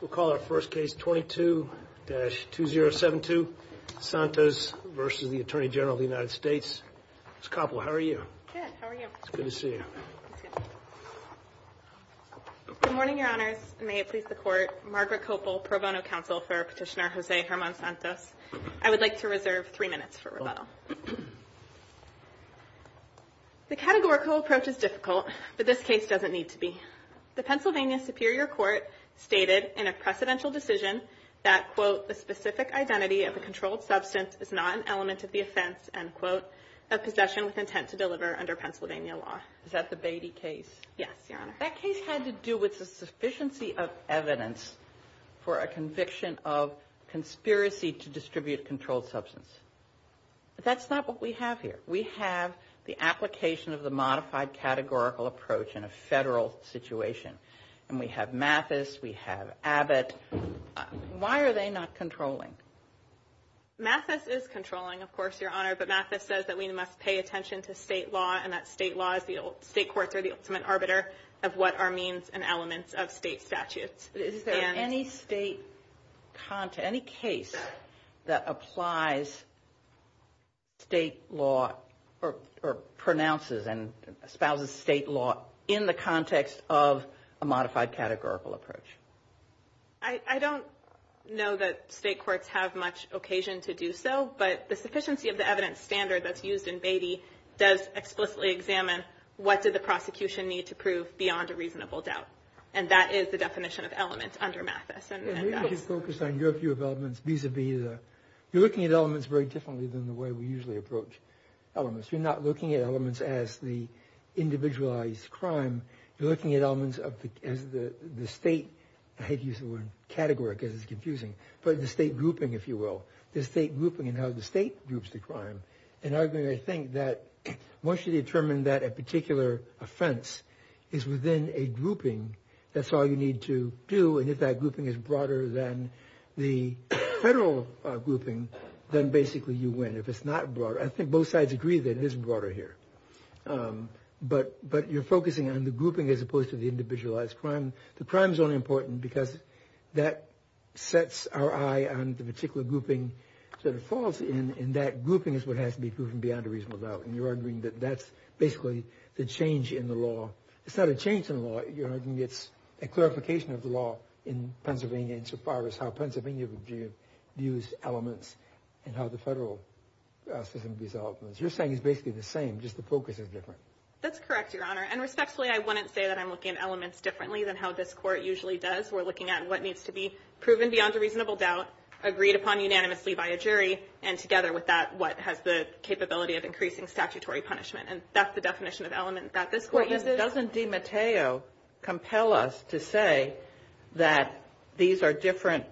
We'll call our first case 22-2072, Santos v. Attorney General of the United States. Ms. Koppel, how are you? Good, how are you? Good to see you. Good morning, Your Honors, and may it please the Court. Margaret Koppel, Pro Bono Counsel for Petitioner José Germán Santos. I would like to reserve three minutes for rebuttal. The categorical approach is difficult, but this case doesn't need to be. The Pennsylvania Superior Court stated in a precedential decision that, quote, the specific identity of a controlled substance is not an element of the offense, end quote, of possession with intent to deliver under Pennsylvania law. Is that the Beatty case? Yes, Your Honor. That case had to do with the sufficiency of evidence for a conviction of conspiracy to distribute a controlled substance. That's not what we have here. We have the application of the modified categorical approach in a federal situation, and we have Mathis, we have Abbott. Why are they not controlling? Mathis is controlling, of course, Your Honor, but Mathis says that we must pay attention to state law and that state law is the state courts are the ultimate arbiter of what are means and elements of state statutes. Is there any state content, any case that applies state law or pronounces and espouses state law in the context of a modified categorical approach? I don't know that state courts have much occasion to do so, but the sufficiency of the evidence standard that's used in Beatty does explicitly examine what did the prosecution need to prove beyond a reasonable doubt, and that is the definition of elements under Mathis. You're looking at elements very differently than the way we usually approach elements. You're not looking at elements as the individualized crime. You're looking at elements as the state, I hate to use the word category because it's confusing, but the state grouping, if you will, the state grouping and how the state groups the crime, and I think that once you determine that a particular offense is within a grouping, that's all you need to do. And if that grouping is broader than the federal grouping, then basically you win. If it's not broad, I think both sides agree that it is broader here. But you're focusing on the grouping as opposed to the individualized crime. And the crime is only important because that sets our eye on the particular grouping that it falls in, and that grouping is what has to be proven beyond a reasonable doubt. And you're arguing that that's basically the change in the law. It's not a change in the law. You're arguing it's a clarification of the law in Pennsylvania insofar as how Pennsylvania views elements and how the federal system views elements. You're saying it's basically the same, just the focus is different. That's correct, Your Honor. And respectfully, I wouldn't say that I'm looking at elements differently than how this Court usually does. We're looking at what needs to be proven beyond a reasonable doubt, agreed upon unanimously by a jury, and together with that, what has the capability of increasing statutory punishment. And that's the definition of element that this Court uses. But doesn't DiMatteo compel us to say that these are different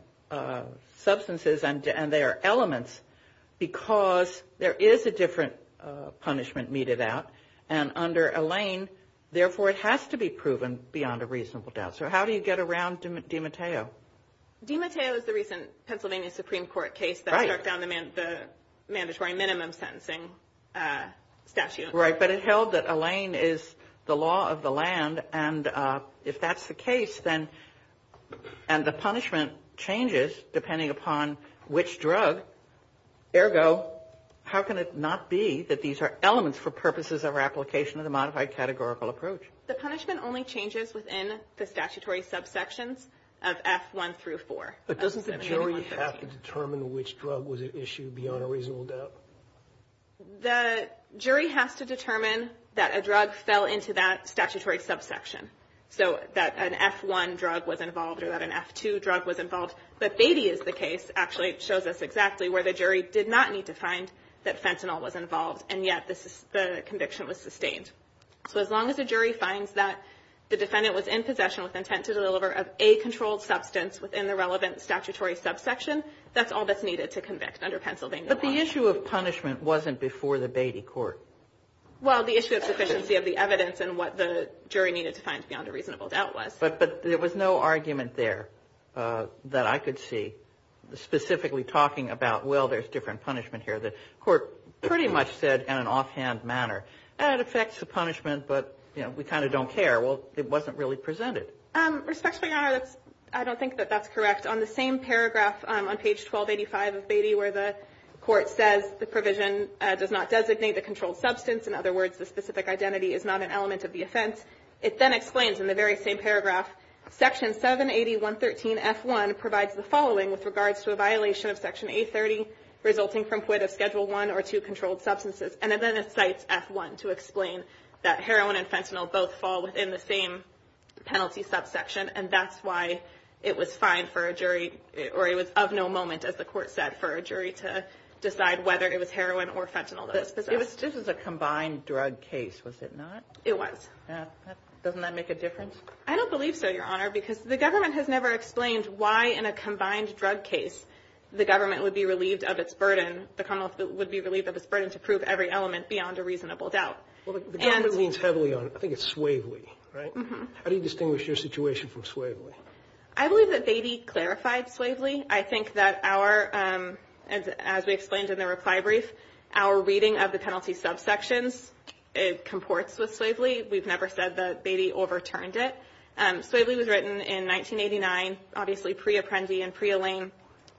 substances and they are elements because there is a different punishment meted out? And under Alain, therefore, it has to be proven beyond a reasonable doubt. So how do you get around DiMatteo? DiMatteo is the recent Pennsylvania Supreme Court case that struck down the mandatory minimum sentencing statute. Right. But it held that Alain is the law of the land. And if that's the case, then and the punishment changes depending upon which drug. Ergo, how can it not be that these are elements for purposes of our application of the modified categorical approach? The punishment only changes within the statutory subsections of F1 through 4. But doesn't the jury have to determine which drug was issued beyond a reasonable doubt? The jury has to determine that a drug fell into that statutory subsection, so that an F1 drug was involved or that an F2 drug was involved. But Beatty is the case, actually, it shows us exactly where the jury did not need to find that fentanyl was involved, and yet the conviction was sustained. So as long as a jury finds that the defendant was in possession with intent to deliver of a controlled substance within the relevant statutory subsection, that's all that's needed to convict under Pennsylvania law. But the issue of punishment wasn't before the Beatty court. Well, the issue of sufficiency of the evidence and what the jury needed to find beyond a reasonable doubt was. But there was no argument there that I could see specifically talking about, well, there's different punishment here. The court pretty much said in an offhand manner, and it affects who the defendant is. It's a punishment, but, you know, we kind of don't care. Well, it wasn't really presented. It was just as a combined drug case, was it not? It was. Doesn't that make a difference? I don't believe so, Your Honor, because the government has never explained why, in a combined drug case, the government would be relieved of its burden. The Commonwealth would be relieved of its burden to prove every element beyond a reasonable doubt. The government leans heavily on, I think it's Swavely, right? How do you distinguish your situation from Swavely? I believe that Beatty clarified Swavely. I think that our, as we explained in the reply brief, our reading of the penalty subsections comports with Swavely. We've never said that Beatty overturned it. Swavely was written in 1989, obviously pre-Apprendi and pre-Elaine,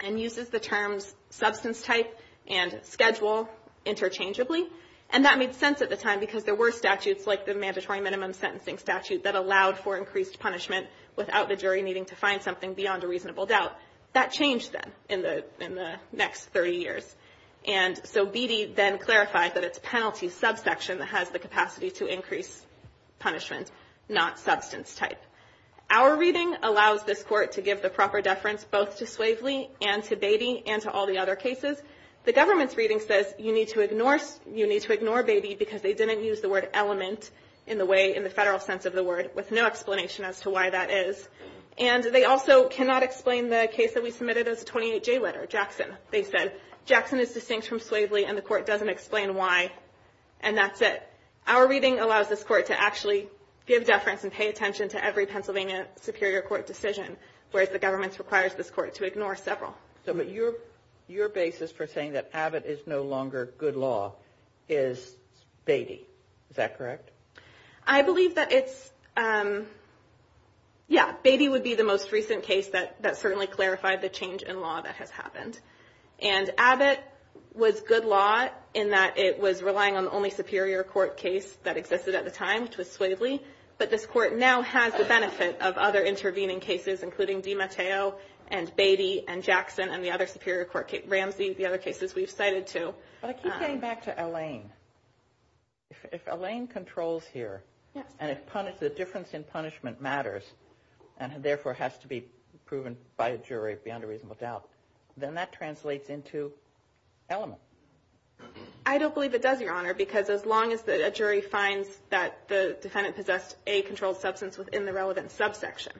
and uses the terms substance type and schedule interchangeably. And that made sense at the time because there were statutes like the mandatory minimum sentencing statute that allowed for increased punishment without the jury needing to find something beyond a reasonable doubt. That changed then in the next 30 years. And so Beatty then clarified that it's penalty subsection that has the capacity to increase punishment, not substance type. Our reading allows this Court to give the proper deference both to Swavely and to Beatty and to all the other cases. The government's reading says you need to ignore Beatty because they didn't use the word element in the way, in the Federal sense of the word, with no explanation as to why that is. And they also cannot explain the case that we submitted as a 28-J letter, Jackson. They said Jackson is distinct from Swavely and the Court doesn't explain why. And that's it. Our reading allows this Court to actually give deference and pay attention to every Pennsylvania Superior Court decision, whereas the government requires this Court to ignore several. So, but your basis for saying that Abbott is no longer good law is Beatty. Is that correct? I believe that it's, yeah, Beatty would be the most recent case that certainly clarified the change in law that has happened. And Abbott was good law in that it was relying on the only Superior Court case that existed at the time, which was Swavely. But this Court now has the benefit of other intervening cases, including DiMatteo and Beatty and Jackson and the other Superior Court cases, Ramsey, the other cases we've cited too. But I keep getting back to Allain. If Allain controls here and if the difference in punishment matters and therefore has to be proven by a jury beyond a reasonable doubt, then that translates into element. I don't believe it does, Your Honor, because as long as a jury finds that the defendant possessed a controlled substance within the relevant subsection,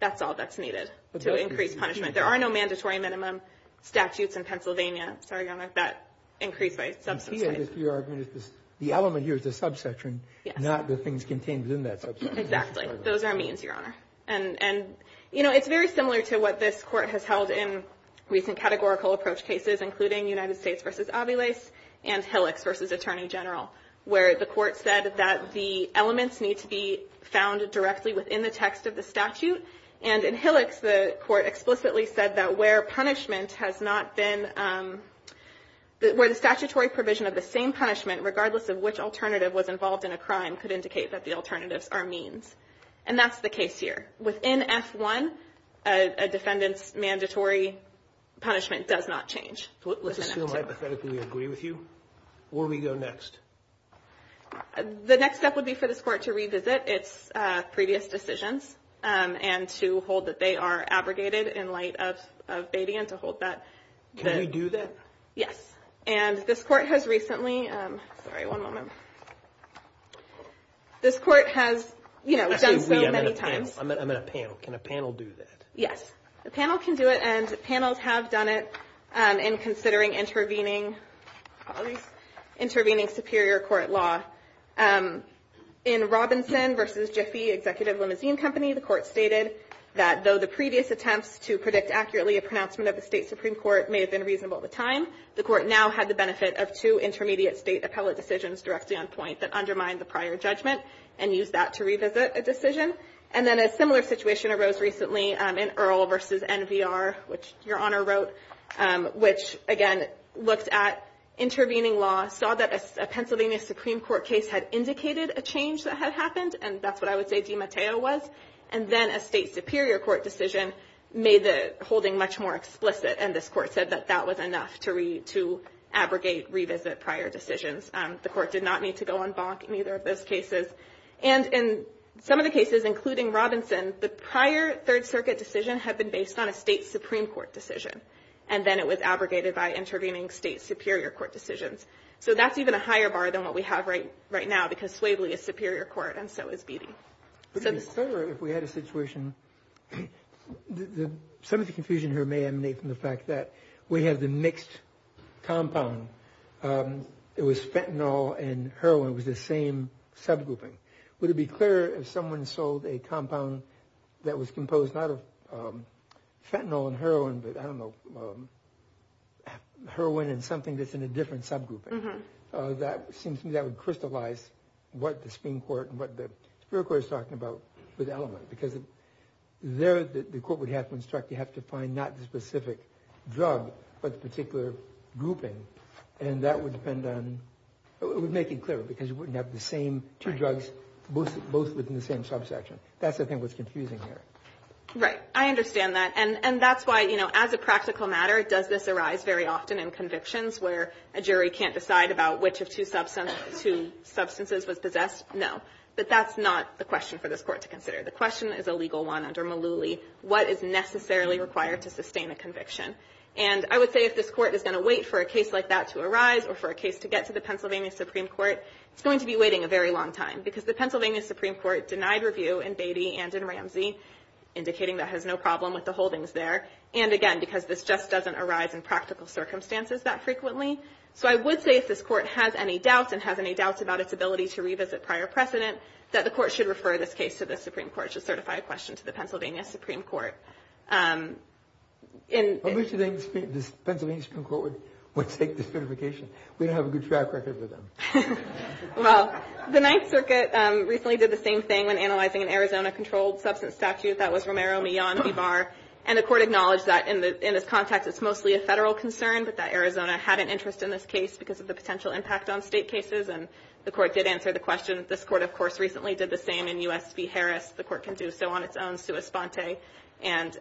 that's all that's needed to increase punishment. There are no mandatory minimum statutes in Pennsylvania, sorry, Your Honor, that increase by subsection. The element here is the subsection, not the things contained within that subsection. Exactly. Those are means, Your Honor. And, you know, it's very similar to what this Court has held in recent categorical approach cases, including United States v. Aviles and Hillex v. Attorney General, where the Court said that the elements need to be found directly within the text of the statute. And in Hillex, the Court explicitly said that where punishment has not been – where the statutory provision of the same punishment, regardless of which alternative was involved in a crime, could indicate that the alternatives are means. And that's the case here. Within F-1, a defendant's mandatory punishment does not change. Let's assume, hypothetically, we agree with you. Where do we go next? The next step would be for this Court to revisit its previous decisions and to hold that they are abrogated in light of Batey and to hold that – Can we do that? Yes. And this Court has recently – sorry, one moment. This Court has, you know, done so many times – Actually, I'm in a panel. Can a panel do that? Yes. A panel can do it, and panels have done it in considering intervening – at least intervening superior court law. In Robinson v. Jiffy Executive Limousine Company, the Court stated that though the previous attempts to predict accurately a pronouncement of the State Supreme Court may have been reasonable at the time, the Court now had the benefit of two intermediate State appellate decisions directly on point that undermined the prior judgment and used that to revisit a decision. And then a similar situation arose recently in Earle v. NVR, which Your Honor wrote, which, again, looked at intervening law, saw that a Pennsylvania Supreme Court case had indicated a change that had happened, and that's what I would say DiMatteo was. And then a State Superior Court decision made the holding much more explicit, and this Court said that that was enough to abrogate, revisit prior decisions. The Court did not need to go on bonk in either of those cases. And in some of the cases, including Robinson, the prior Third Circuit decision had been based on a State Supreme Court decision, and then it was abrogated by intervening State Superior Court decisions. So that's even a higher bar than what we have right now, because Swabley is Superior Court and so is Beattie. If we had a situation, some of the confusion here may emanate from the fact that we have the mixed compound. It was fentanyl and heroin, it was the same subgrouping. Would it be clearer if someone sold a compound that was composed not of fentanyl and heroin, but I don't know, with element, because there the Court would have to instruct you have to find not the specific drug, but the particular grouping. And that would depend on, it would make it clearer, because you wouldn't have the same two drugs, both within the same subsection. That's, I think, what's confusing here. Right. I understand that. And that's why, you know, as a practical matter, does this arise very often in convictions where a jury can't decide about which of two substances was possessed? No. But that's not the question for this Court to consider. The question is a legal one under Mullooly. What is necessarily required to sustain a conviction? And I would say if this Court is going to wait for a case like that to arise or for a case to get to the Pennsylvania Supreme Court, it's going to be waiting a very long time, because the Pennsylvania Supreme Court denied review in Beattie and in Ramsey, indicating that has no problem with the holdings there. And, again, because this just doesn't arise in practical circumstances that frequently. So I would say if this Court has any doubts and has any doubts about its ability to revisit prior precedent, that the Court should refer this case to the Supreme Court. It should certify a question to the Pennsylvania Supreme Court. I wish the Pennsylvania Supreme Court would take the certification. We don't have a good track record with them. Well, the Ninth Circuit recently did the same thing when analyzing an Arizona-controlled substance statute. That was Romero-Millan v. Barr. And the Court acknowledged that in this context it's mostly a federal concern, but that Arizona had an interest in this case because of the potential impact on state cases. And the Court did answer the question. This Court, of course, recently did the same in U.S. v. Harris. The Court can do so on its own, sua sponte. And,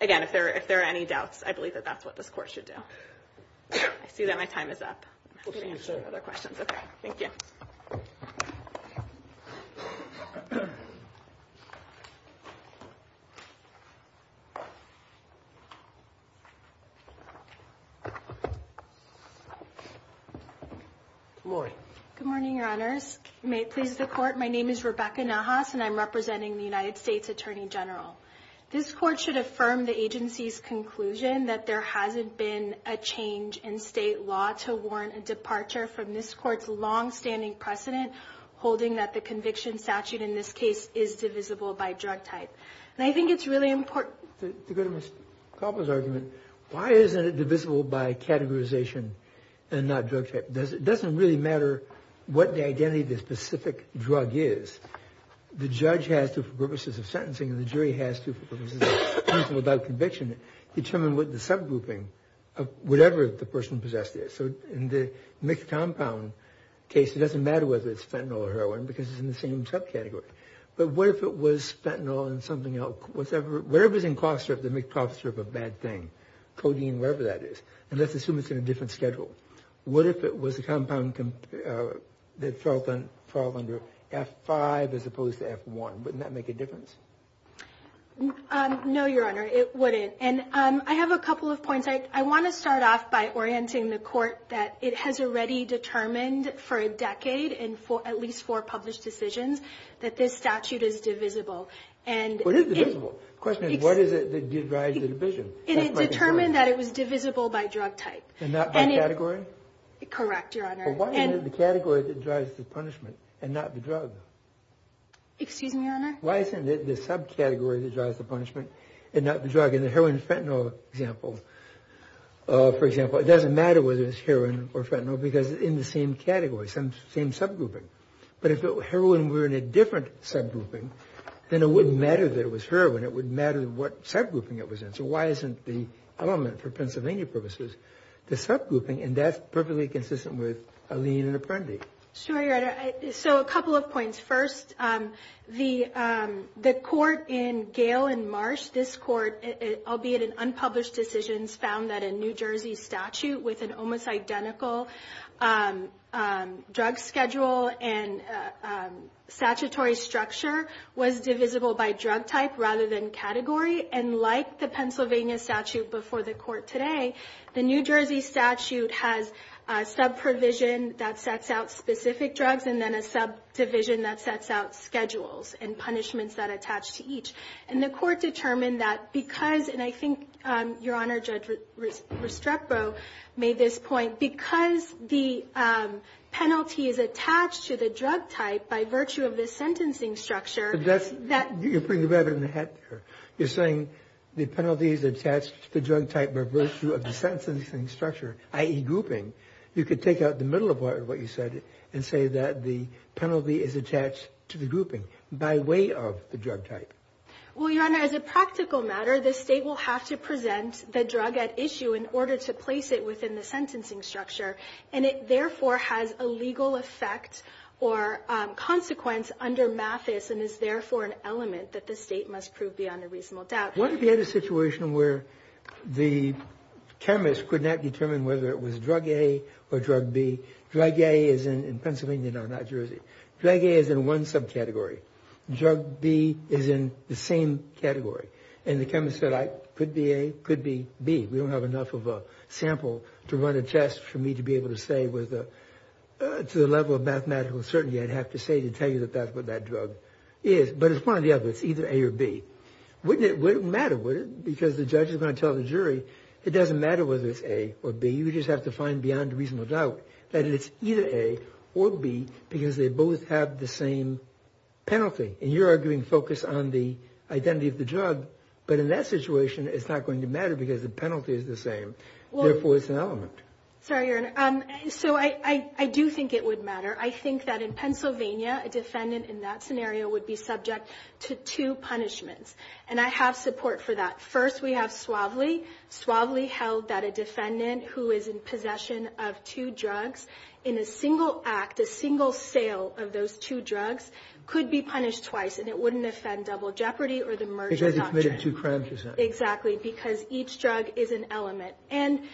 again, if there are any doubts, I believe that that's what this Court should do. I see that my time is up. I'm happy to answer other questions. Okay. Thank you. Good morning. Good morning, Your Honors. May it please the Court, my name is Rebecca Nahas, and I'm representing the United States Attorney General. This Court should affirm the agency's conclusion that there hasn't been a change in state law to warrant a departure from this Court's longstanding precedent, holding that the conviction statute in this case is divisible by drug type. And I think it's really important to go to Ms. Koppel's argument. Why isn't it divisible by categorization and not drug type? It doesn't really matter what the identity of the specific drug is. The judge has to, for purposes of sentencing, and the jury has to, for purposes of proving without conviction, determine what the subgrouping of whatever the person possessed is. So in the mixed compound case, it doesn't matter whether it's fentanyl or heroin because it's in the same subcategory. But what if it was fentanyl and something else? Whatever's in cough syrup that makes cough syrup a bad thing, codeine, whatever that is. And let's assume it's in a different schedule. What if it was a compound that fell under F5 as opposed to F1? Wouldn't that make a difference? No, Your Honor, it wouldn't. And I have a couple of points. I want to start off by orienting the Court that it has already determined for a decade, at least four published decisions, that this statute is divisible. What is divisible? The question is, what is it that drives the division? It determined that it was divisible by drug type. And not by category? Correct, Your Honor. But what is the category that drives the punishment and not the drug? Excuse me, Your Honor? Why isn't it the subcategory that drives the punishment and not the drug? In the heroin and fentanyl example, for example, it doesn't matter whether it's heroin or fentanyl because it's in the same category, same subgrouping. But if heroin were in a different subgrouping, then it wouldn't matter that it was heroin. It wouldn't matter what subgrouping it was in. So why isn't the element for Pennsylvania purposes the subgrouping? And that's perfectly consistent with Alene and Apprendi. Sure, Your Honor. So a couple of points. First, the Court in Gale and Marsh, this Court, albeit in unpublished decisions, found that a New Jersey statute with an almost identical drug schedule and statutory structure was divisible by drug type rather than category. And like the Pennsylvania statute before the Court today, the New Jersey statute has a subprovision that sets out specific drugs and then a subdivision that sets out schedules and punishments that attach to each. And the Court determined that because, and I think, Your Honor, Judge Restrepo made this point, because the penalty is attached to the drug type by virtue of the sentencing structure. You're putting the rabbit in the hat there. You're saying the penalty is attached to the drug type by virtue of the sentencing structure, i.e. grouping. You could take out the middle of what you said and say that the penalty is attached to the grouping by way of the drug type. Well, Your Honor, as a practical matter, the State will have to present the drug at issue in order to place it within the sentencing structure, and it therefore has a legal effect or consequence under MAFIS and is therefore an element that the State must prove beyond a reasonable doubt. What if you had a situation where the chemist could not determine whether it was drug A or drug B? Drug A is in Pennsylvania, not New Jersey. Drug A is in one subcategory. Drug B is in the same category. And the chemist said, could be A, could be B. We don't have enough of a sample to run a test for me to be able to say to the level of mathematical certainty I'd have to say to tell you that that's what that drug is. But it's one or the other. It's either A or B. Wouldn't it matter, would it? Because the judge is going to tell the jury it doesn't matter whether it's A or B. You just have to find beyond a reasonable doubt that it's either A or B because they both have the same penalty. And you're arguing focus on the identity of the drug. But in that situation, it's not going to matter because the penalty is the same. Therefore, it's an element. Sorry, Your Honor. So I do think it would matter. I think that in Pennsylvania, a defendant in that scenario would be subject to two punishments. And I have support for that. First, we have Suavely. Suavely held that a defendant who is in possession of two drugs in a single act, a single sale of those two drugs, could be punished twice, and it wouldn't offend double jeopardy or the merger doctrine. Because it committed two crimes, is that right? Exactly. Because each drug is an element. And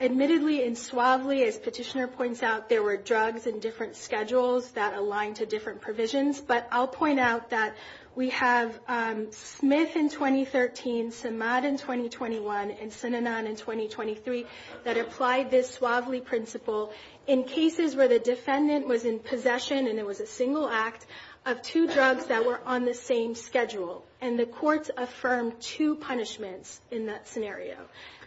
admittedly, in Suavely, as Petitioner points out, there were drugs in different schedules that aligned to different provisions. But I'll point out that we have Smith in 2013, Samad in 2021, and Sinanon in 2023 that applied this Suavely principle in cases where the defendant was in possession, and it was a single act, of two drugs that were on the same schedule. And the courts affirmed two punishments in that scenario.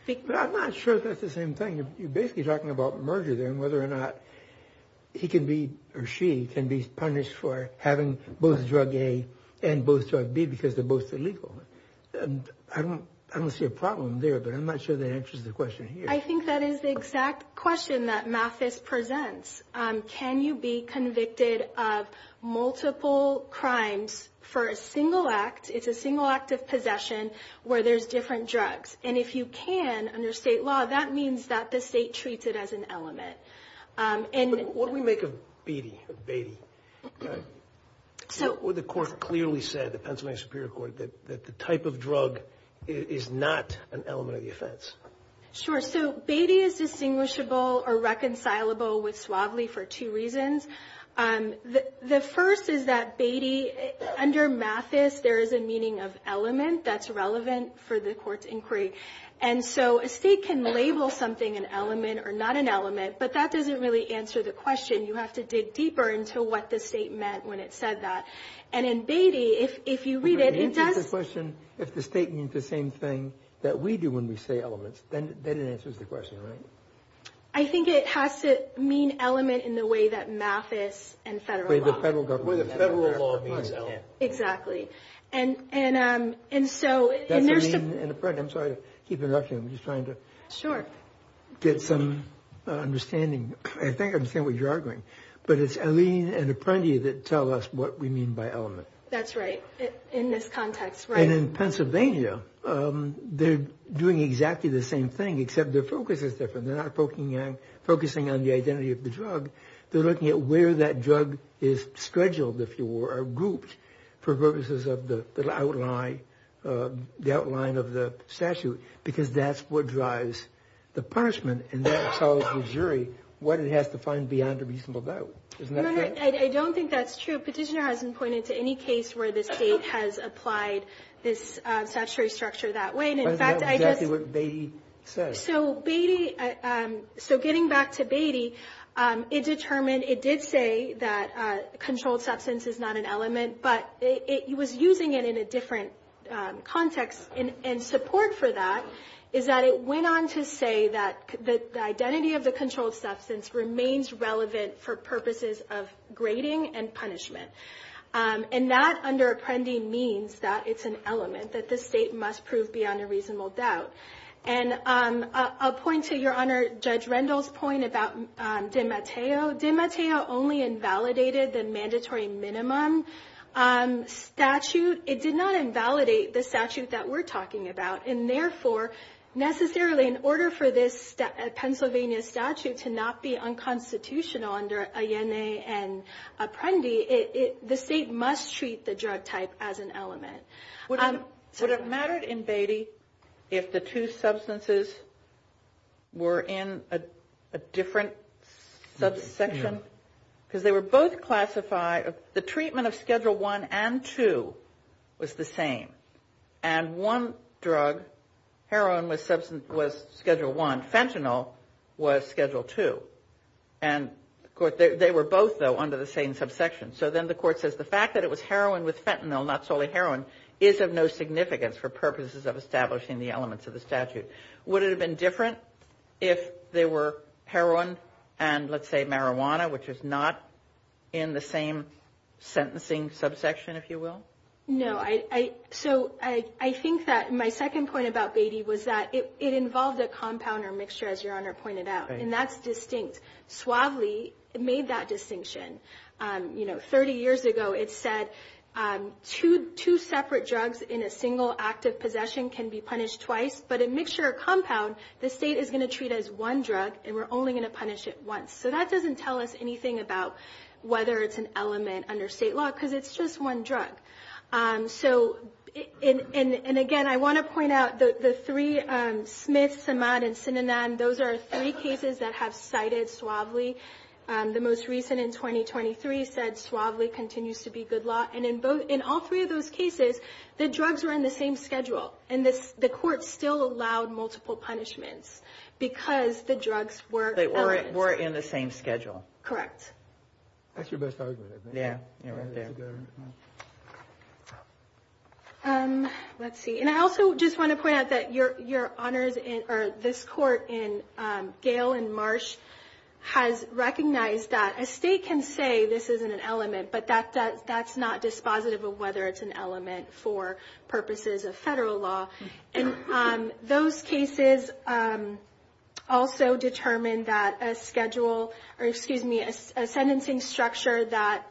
But I'm not sure that's the same thing. You're basically talking about merger there and whether or not he can be, or she can be punished for having both drug A and both drug B because they're both illegal. I don't see a problem there, but I'm not sure that answers the question here. I think that is the exact question that Mathis presents. Can you be convicted of multiple crimes for a single act? It's a single act of possession where there's different drugs. And if you can, under state law, that means that the state treats it as an element. What do we make of Beatty? The court clearly said, the Pennsylvania Superior Court, that the type of drug is not an element of the offense. Sure. So Beatty is distinguishable or reconcilable with Suavely for two reasons. The first is that Beatty, under Mathis, there is a meaning of element that's relevant for the court's inquiry. And so a state can label something an element or not an element, but that doesn't really answer the question. You have to dig deeper into what the state meant when it said that. And in Beatty, if you read it, it does – If the state means the same thing that we do when we say elements, then it answers the question, right? I think it has to mean element in the way that Mathis and federal law – The way the federal law means element. Exactly. And so – That's Allene and Apprendi. I'm sorry to keep interrupting. I'm just trying to – Sure. Get some understanding. I think I understand what you're arguing. But it's Allene and Apprendi that tell us what we mean by element. That's right. In this context, right. And in Pennsylvania, they're doing exactly the same thing, except their focus is different. They're not focusing on the identity of the drug. They're looking at where that drug is scheduled, if you will, or grouped for purposes of the outline of the statute, because that's what drives the punishment. And that tells the jury what it has to find beyond a reasonable doubt. I don't think that's true. The jury petitioner hasn't pointed to any case where the state has applied this statutory structure that way. And, in fact, I just – But that's exactly what Beatty says. So Beatty – so getting back to Beatty, it determined – it did say that controlled substance is not an element, but it was using it in a different context. And support for that is that it went on to say that the identity of the controlled substance remains relevant for purposes of grading and punishment. And that, under Apprendi, means that it's an element that the state must prove beyond a reasonable doubt. And I'll point to Your Honor Judge Rendell's point about DiMatteo. DiMatteo only invalidated the mandatory minimum statute. It did not invalidate the statute that we're talking about. And, therefore, necessarily, in order for this Pennsylvania statute to not be unconstitutional under INA and Apprendi, the state must treat the drug type as an element. Would it matter in Beatty if the two substances were in a different subsection? Because they were both classified – the treatment of Schedule I and II was the same. And one drug, heroin, was Schedule I. Fentanyl was Schedule II. And they were both, though, under the same subsection. So then the court says the fact that it was heroin with fentanyl, not solely heroin, is of no significance for purposes of establishing the elements of the statute. Would it have been different if they were heroin and, let's say, marijuana, which is not in the same sentencing subsection, if you will? No. So I think that my second point about Beatty was that it involved a compound or mixture, as Your Honor pointed out. And that's distinct. Suavely made that distinction. You know, 30 years ago, it said two separate drugs in a single act of possession can be punished twice. But a mixture or compound, the state is going to treat as one drug, and we're only going to punish it once. So that doesn't tell us anything about whether it's an element under state law because it's just one drug. So, and again, I want to point out the three, Smith, Samad, and Sinanan, those are three cases that have cited Suavely. The most recent in 2023 said Suavely continues to be good law. And in all three of those cases, the drugs were in the same schedule, and the court still allowed multiple punishments because the drugs were elements. In the same schedule. Correct. That's your best argument, I think. Yeah. Yeah, right there. Let's see. And I also just want to point out that Your Honors, or this court in Gale and Marsh, has recognized that a state can say this isn't an element, but that's not dispositive of whether it's an element for purposes of federal law. And those cases also determine that a schedule, or excuse me, a sentencing structure that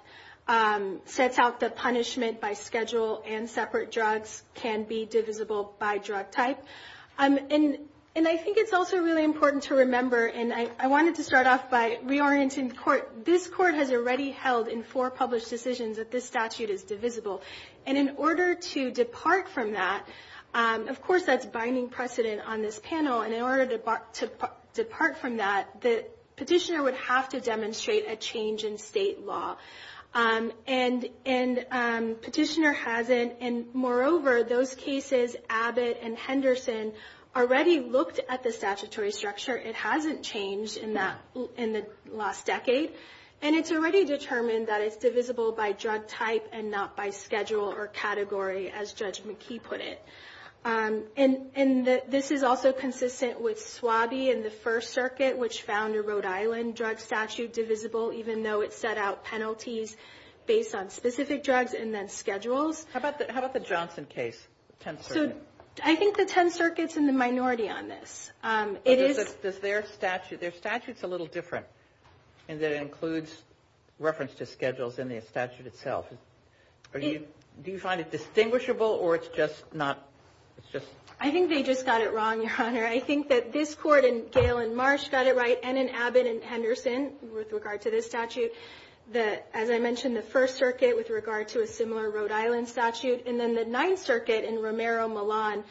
sets out the punishment by schedule and separate drugs can be divisible by drug type. And I think it's also really important to remember, and I wanted to start off by reorienting the court. This court has already held in four published decisions that this statute is divisible. And in order to depart from that, of course that's binding precedent on this panel, and in order to depart from that, the petitioner would have to demonstrate a change in state law. And petitioner hasn't, and moreover, those cases, Abbott and Henderson, already looked at the statutory structure. It hasn't changed in the last decade. And it's already determined that it's divisible by drug type and not by schedule or category, as Judge McKee put it. And this is also consistent with SWABI in the First Circuit, which found a Rhode Island drug statute divisible even though it set out penalties based on specific drugs and then schedules. How about the Johnson case, the Tenth Circuit? So I think the Tenth Circuit's in the minority on this. Their statute's a little different in that it includes reference to schedules in the statute itself. Do you find it distinguishable or it's just not? I think they just got it wrong, Your Honor. I think that this court in Gale and Marsh got it right and in Abbott and Henderson with regard to this statute. As I mentioned, the First Circuit with regard to a similar Rhode Island statute, and then the Ninth Circuit in Romero-Millan,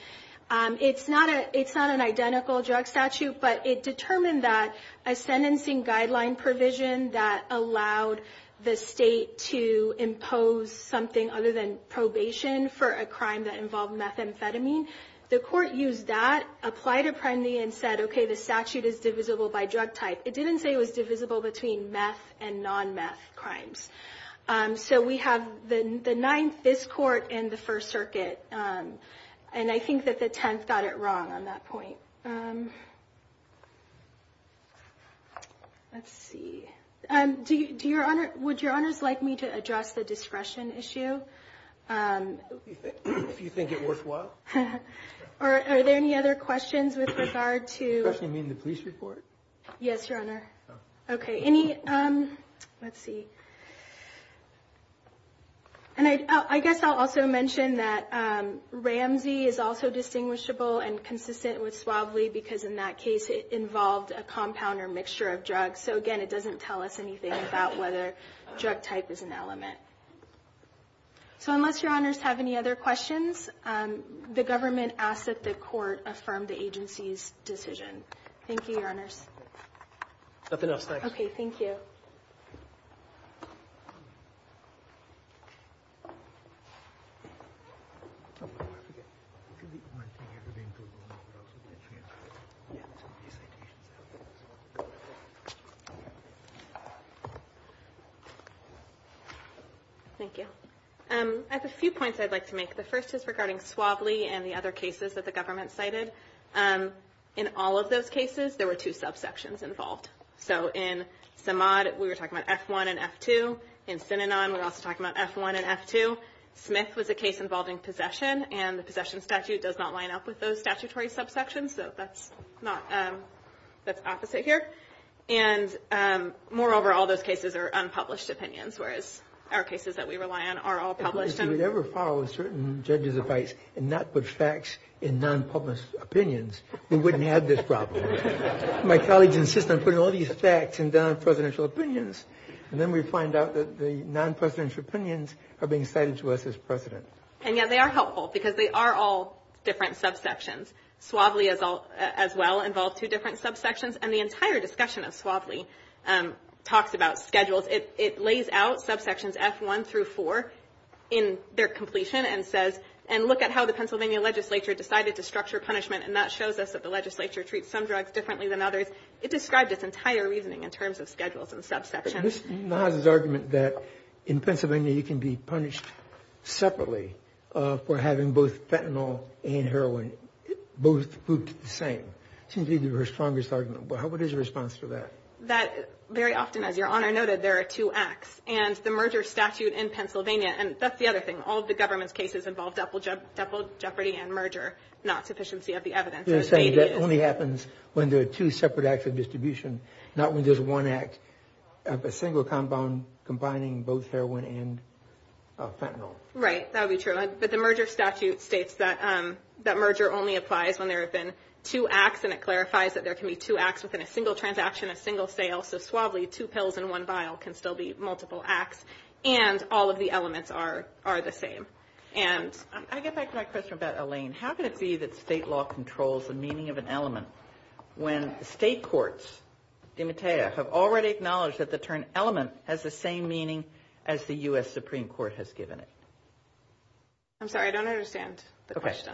it's not an identical drug statute, but it determined that a sentencing guideline provision that allowed the state to impose something other than probation for a crime that involved methamphetamine, the court used that, applied a penalty, and said, okay, the statute is divisible by drug type. It didn't say it was divisible between meth and non-meth crimes. So we have the Ninth, this court, and the First Circuit, and I think that the Tenth got it wrong on that point. Let's see. Would Your Honors like me to address the discretion issue? If you think it worthwhile. Are there any other questions with regard to? You mean the police report? Yes, Your Honor. Okay. Let's see. And I guess I'll also mention that Ramsey is also distinguishable and consistent with Suavely because in that case it involved a compound or mixture of drugs. So again, it doesn't tell us anything about whether drug type is an element. So unless Your Honors have any other questions, the government asks that the court affirm the agency's decision. Thank you, Your Honors. Nothing else, thanks. Okay, thank you. Thank you. I have a few points I'd like to make. The first is regarding Suavely and the other cases that the government cited. In all of those cases, there were two subsections involved. So in Samad, we were talking about F-1 and F-2. In Synanon, we were also talking about F-1 and F-2. Smith was a case involving possession, and the possession statute does not line up with those statutory subsections, so that's opposite here. And moreover, all those cases are unpublished opinions, whereas our cases that we rely on are all published. If we ever followed certain judges' advice and not put facts in non-published opinions, we wouldn't have this problem. My colleagues insist on putting all these facts in non-presidential opinions, and then we find out that the non-presidential opinions are being cited to us as precedent. And yet they are helpful because they are all different subsections. Suavely as well involved two different subsections, and the entire discussion of Suavely talks about schedules. It lays out subsections F-1 through 4 in their completion and says, and look at how the Pennsylvania legislature decided to structure punishment, and that shows us that the legislature treats some drugs differently than others. It described its entire reasoning in terms of schedules and subsections. But Ms. Nasr's argument that in Pennsylvania, you can be punished separately for having both fentanyl and heroin both grouped the same seems to be her strongest argument. What is your response to that? Very often, as Your Honor noted, there are two acts. And the merger statute in Pennsylvania, and that's the other thing, all of the government's cases involve double jeopardy and merger, not sufficiency of the evidence. You're saying that only happens when there are two separate acts of distribution, not when there's one act of a single compound combining both heroin and fentanyl. Right, that would be true. But the merger statute states that merger only applies when there have been two acts, and it clarifies that there can be two acts within a single transaction, a single sale. So, suavely, two pills in one vial can still be multiple acts, and all of the elements are the same. I get back to my question about Elaine. How can it be that state law controls the meaning of an element when state courts, DiMatteo, have already acknowledged that the term element has the same meaning as the U.S. Supreme Court has given it? I'm sorry, I don't understand the question.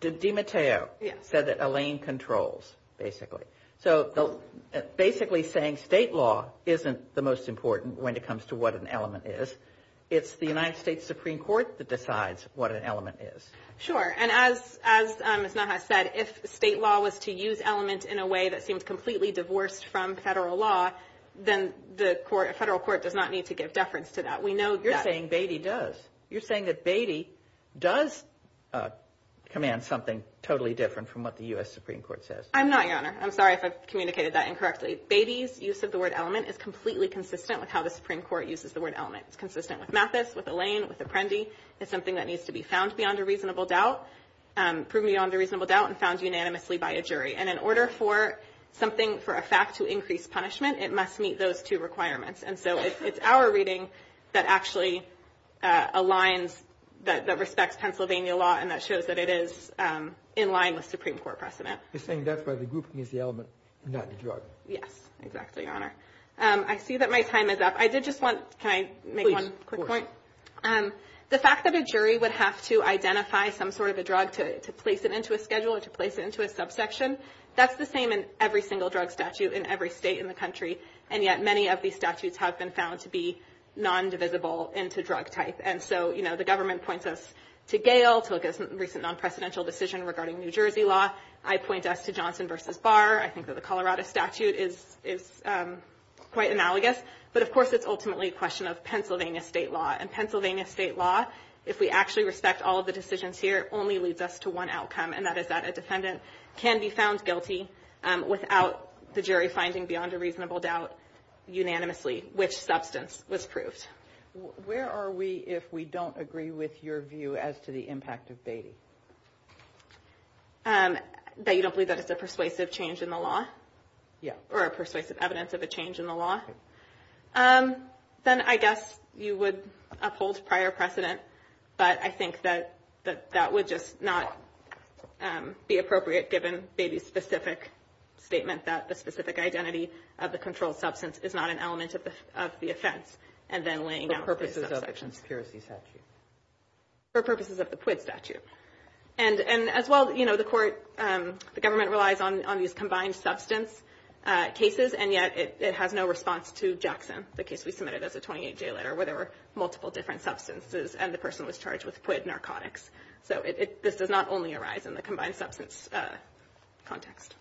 DiMatteo said that Elaine controls, basically. So, basically saying state law isn't the most important when it comes to what an element is. It's the United States Supreme Court that decides what an element is. Sure. And as Ms. Nahas said, if state law was to use element in a way that seemed completely divorced from federal law, then the federal court does not need to give deference to that. We know that. You're saying Beatty does. You're saying that Beatty does command something totally different from what the U.S. Supreme Court says. I'm not, Your Honor. I'm sorry if I've communicated that incorrectly. Beatty's use of the word element is completely consistent with how the Supreme Court uses the word element. It's consistent with Mathis, with Elaine, with Apprendi. It's something that needs to be found beyond a reasonable doubt, proven beyond a reasonable doubt, and found unanimously by a jury. And in order for something, for a fact to increase punishment, it must meet those two requirements. And so it's our reading that actually aligns, that respects Pennsylvania law, and that shows that it is in line with Supreme Court precedent. You're saying that's why the grouping is the element, not the drug. Yes. Exactly, Your Honor. I see that my time is up. I did just want, can I make one quick point? Please. Of course. The fact that a jury would have to identify some sort of a drug to place it into a schedule or to place it into a subsection, that's the same in every single drug statute in every state in the country. And yet many of these statutes have been found to be non-divisible into drug type. And so, you know, the government points us to Gale, to a recent non-presidential decision regarding New Jersey law. I point us to Johnson v. Barr. I think that the Colorado statute is quite analogous. But, of course, it's ultimately a question of Pennsylvania state law. And Pennsylvania state law, if we actually respect all of the decisions here, only leads us to one outcome, and that is that a defendant can be found guilty without the jury finding beyond a reasonable doubt unanimously which substance was proved. Where are we if we don't agree with your view as to the impact of Beatty? That you don't believe that it's a persuasive change in the law? Yeah. Or a persuasive evidence of a change in the law? Then I guess you would uphold prior precedent. But I think that that would just not be appropriate given Beatty's specific statement that the specific identity of the controlled substance is not an element of the offense. And then laying out the subsection. For purposes of the conspiracy statute? For purposes of the PUID statute. And as well, you know, the court, the government relies on these combined substance cases, and yet it has no response to Jackson, the case we submitted as a 28-J letter, where there were multiple different substances and the person was charged with PUID narcotics. So this does not only arise in the combined substance context.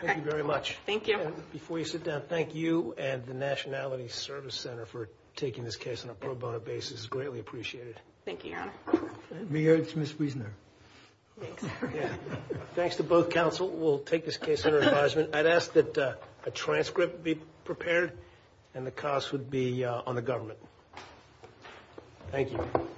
Thank you very much. Thank you. Before you sit down, thank you and the Nationality Service Center for taking this case on a pro bono basis. It's greatly appreciated. Thank you, Your Honor. And me, it's Ms. Wiesner. Thanks. Yeah. Thanks to both counsel. We'll take this case under advisement. I'd ask that a transcript be prepared, and the cost would be on the government. Thank you.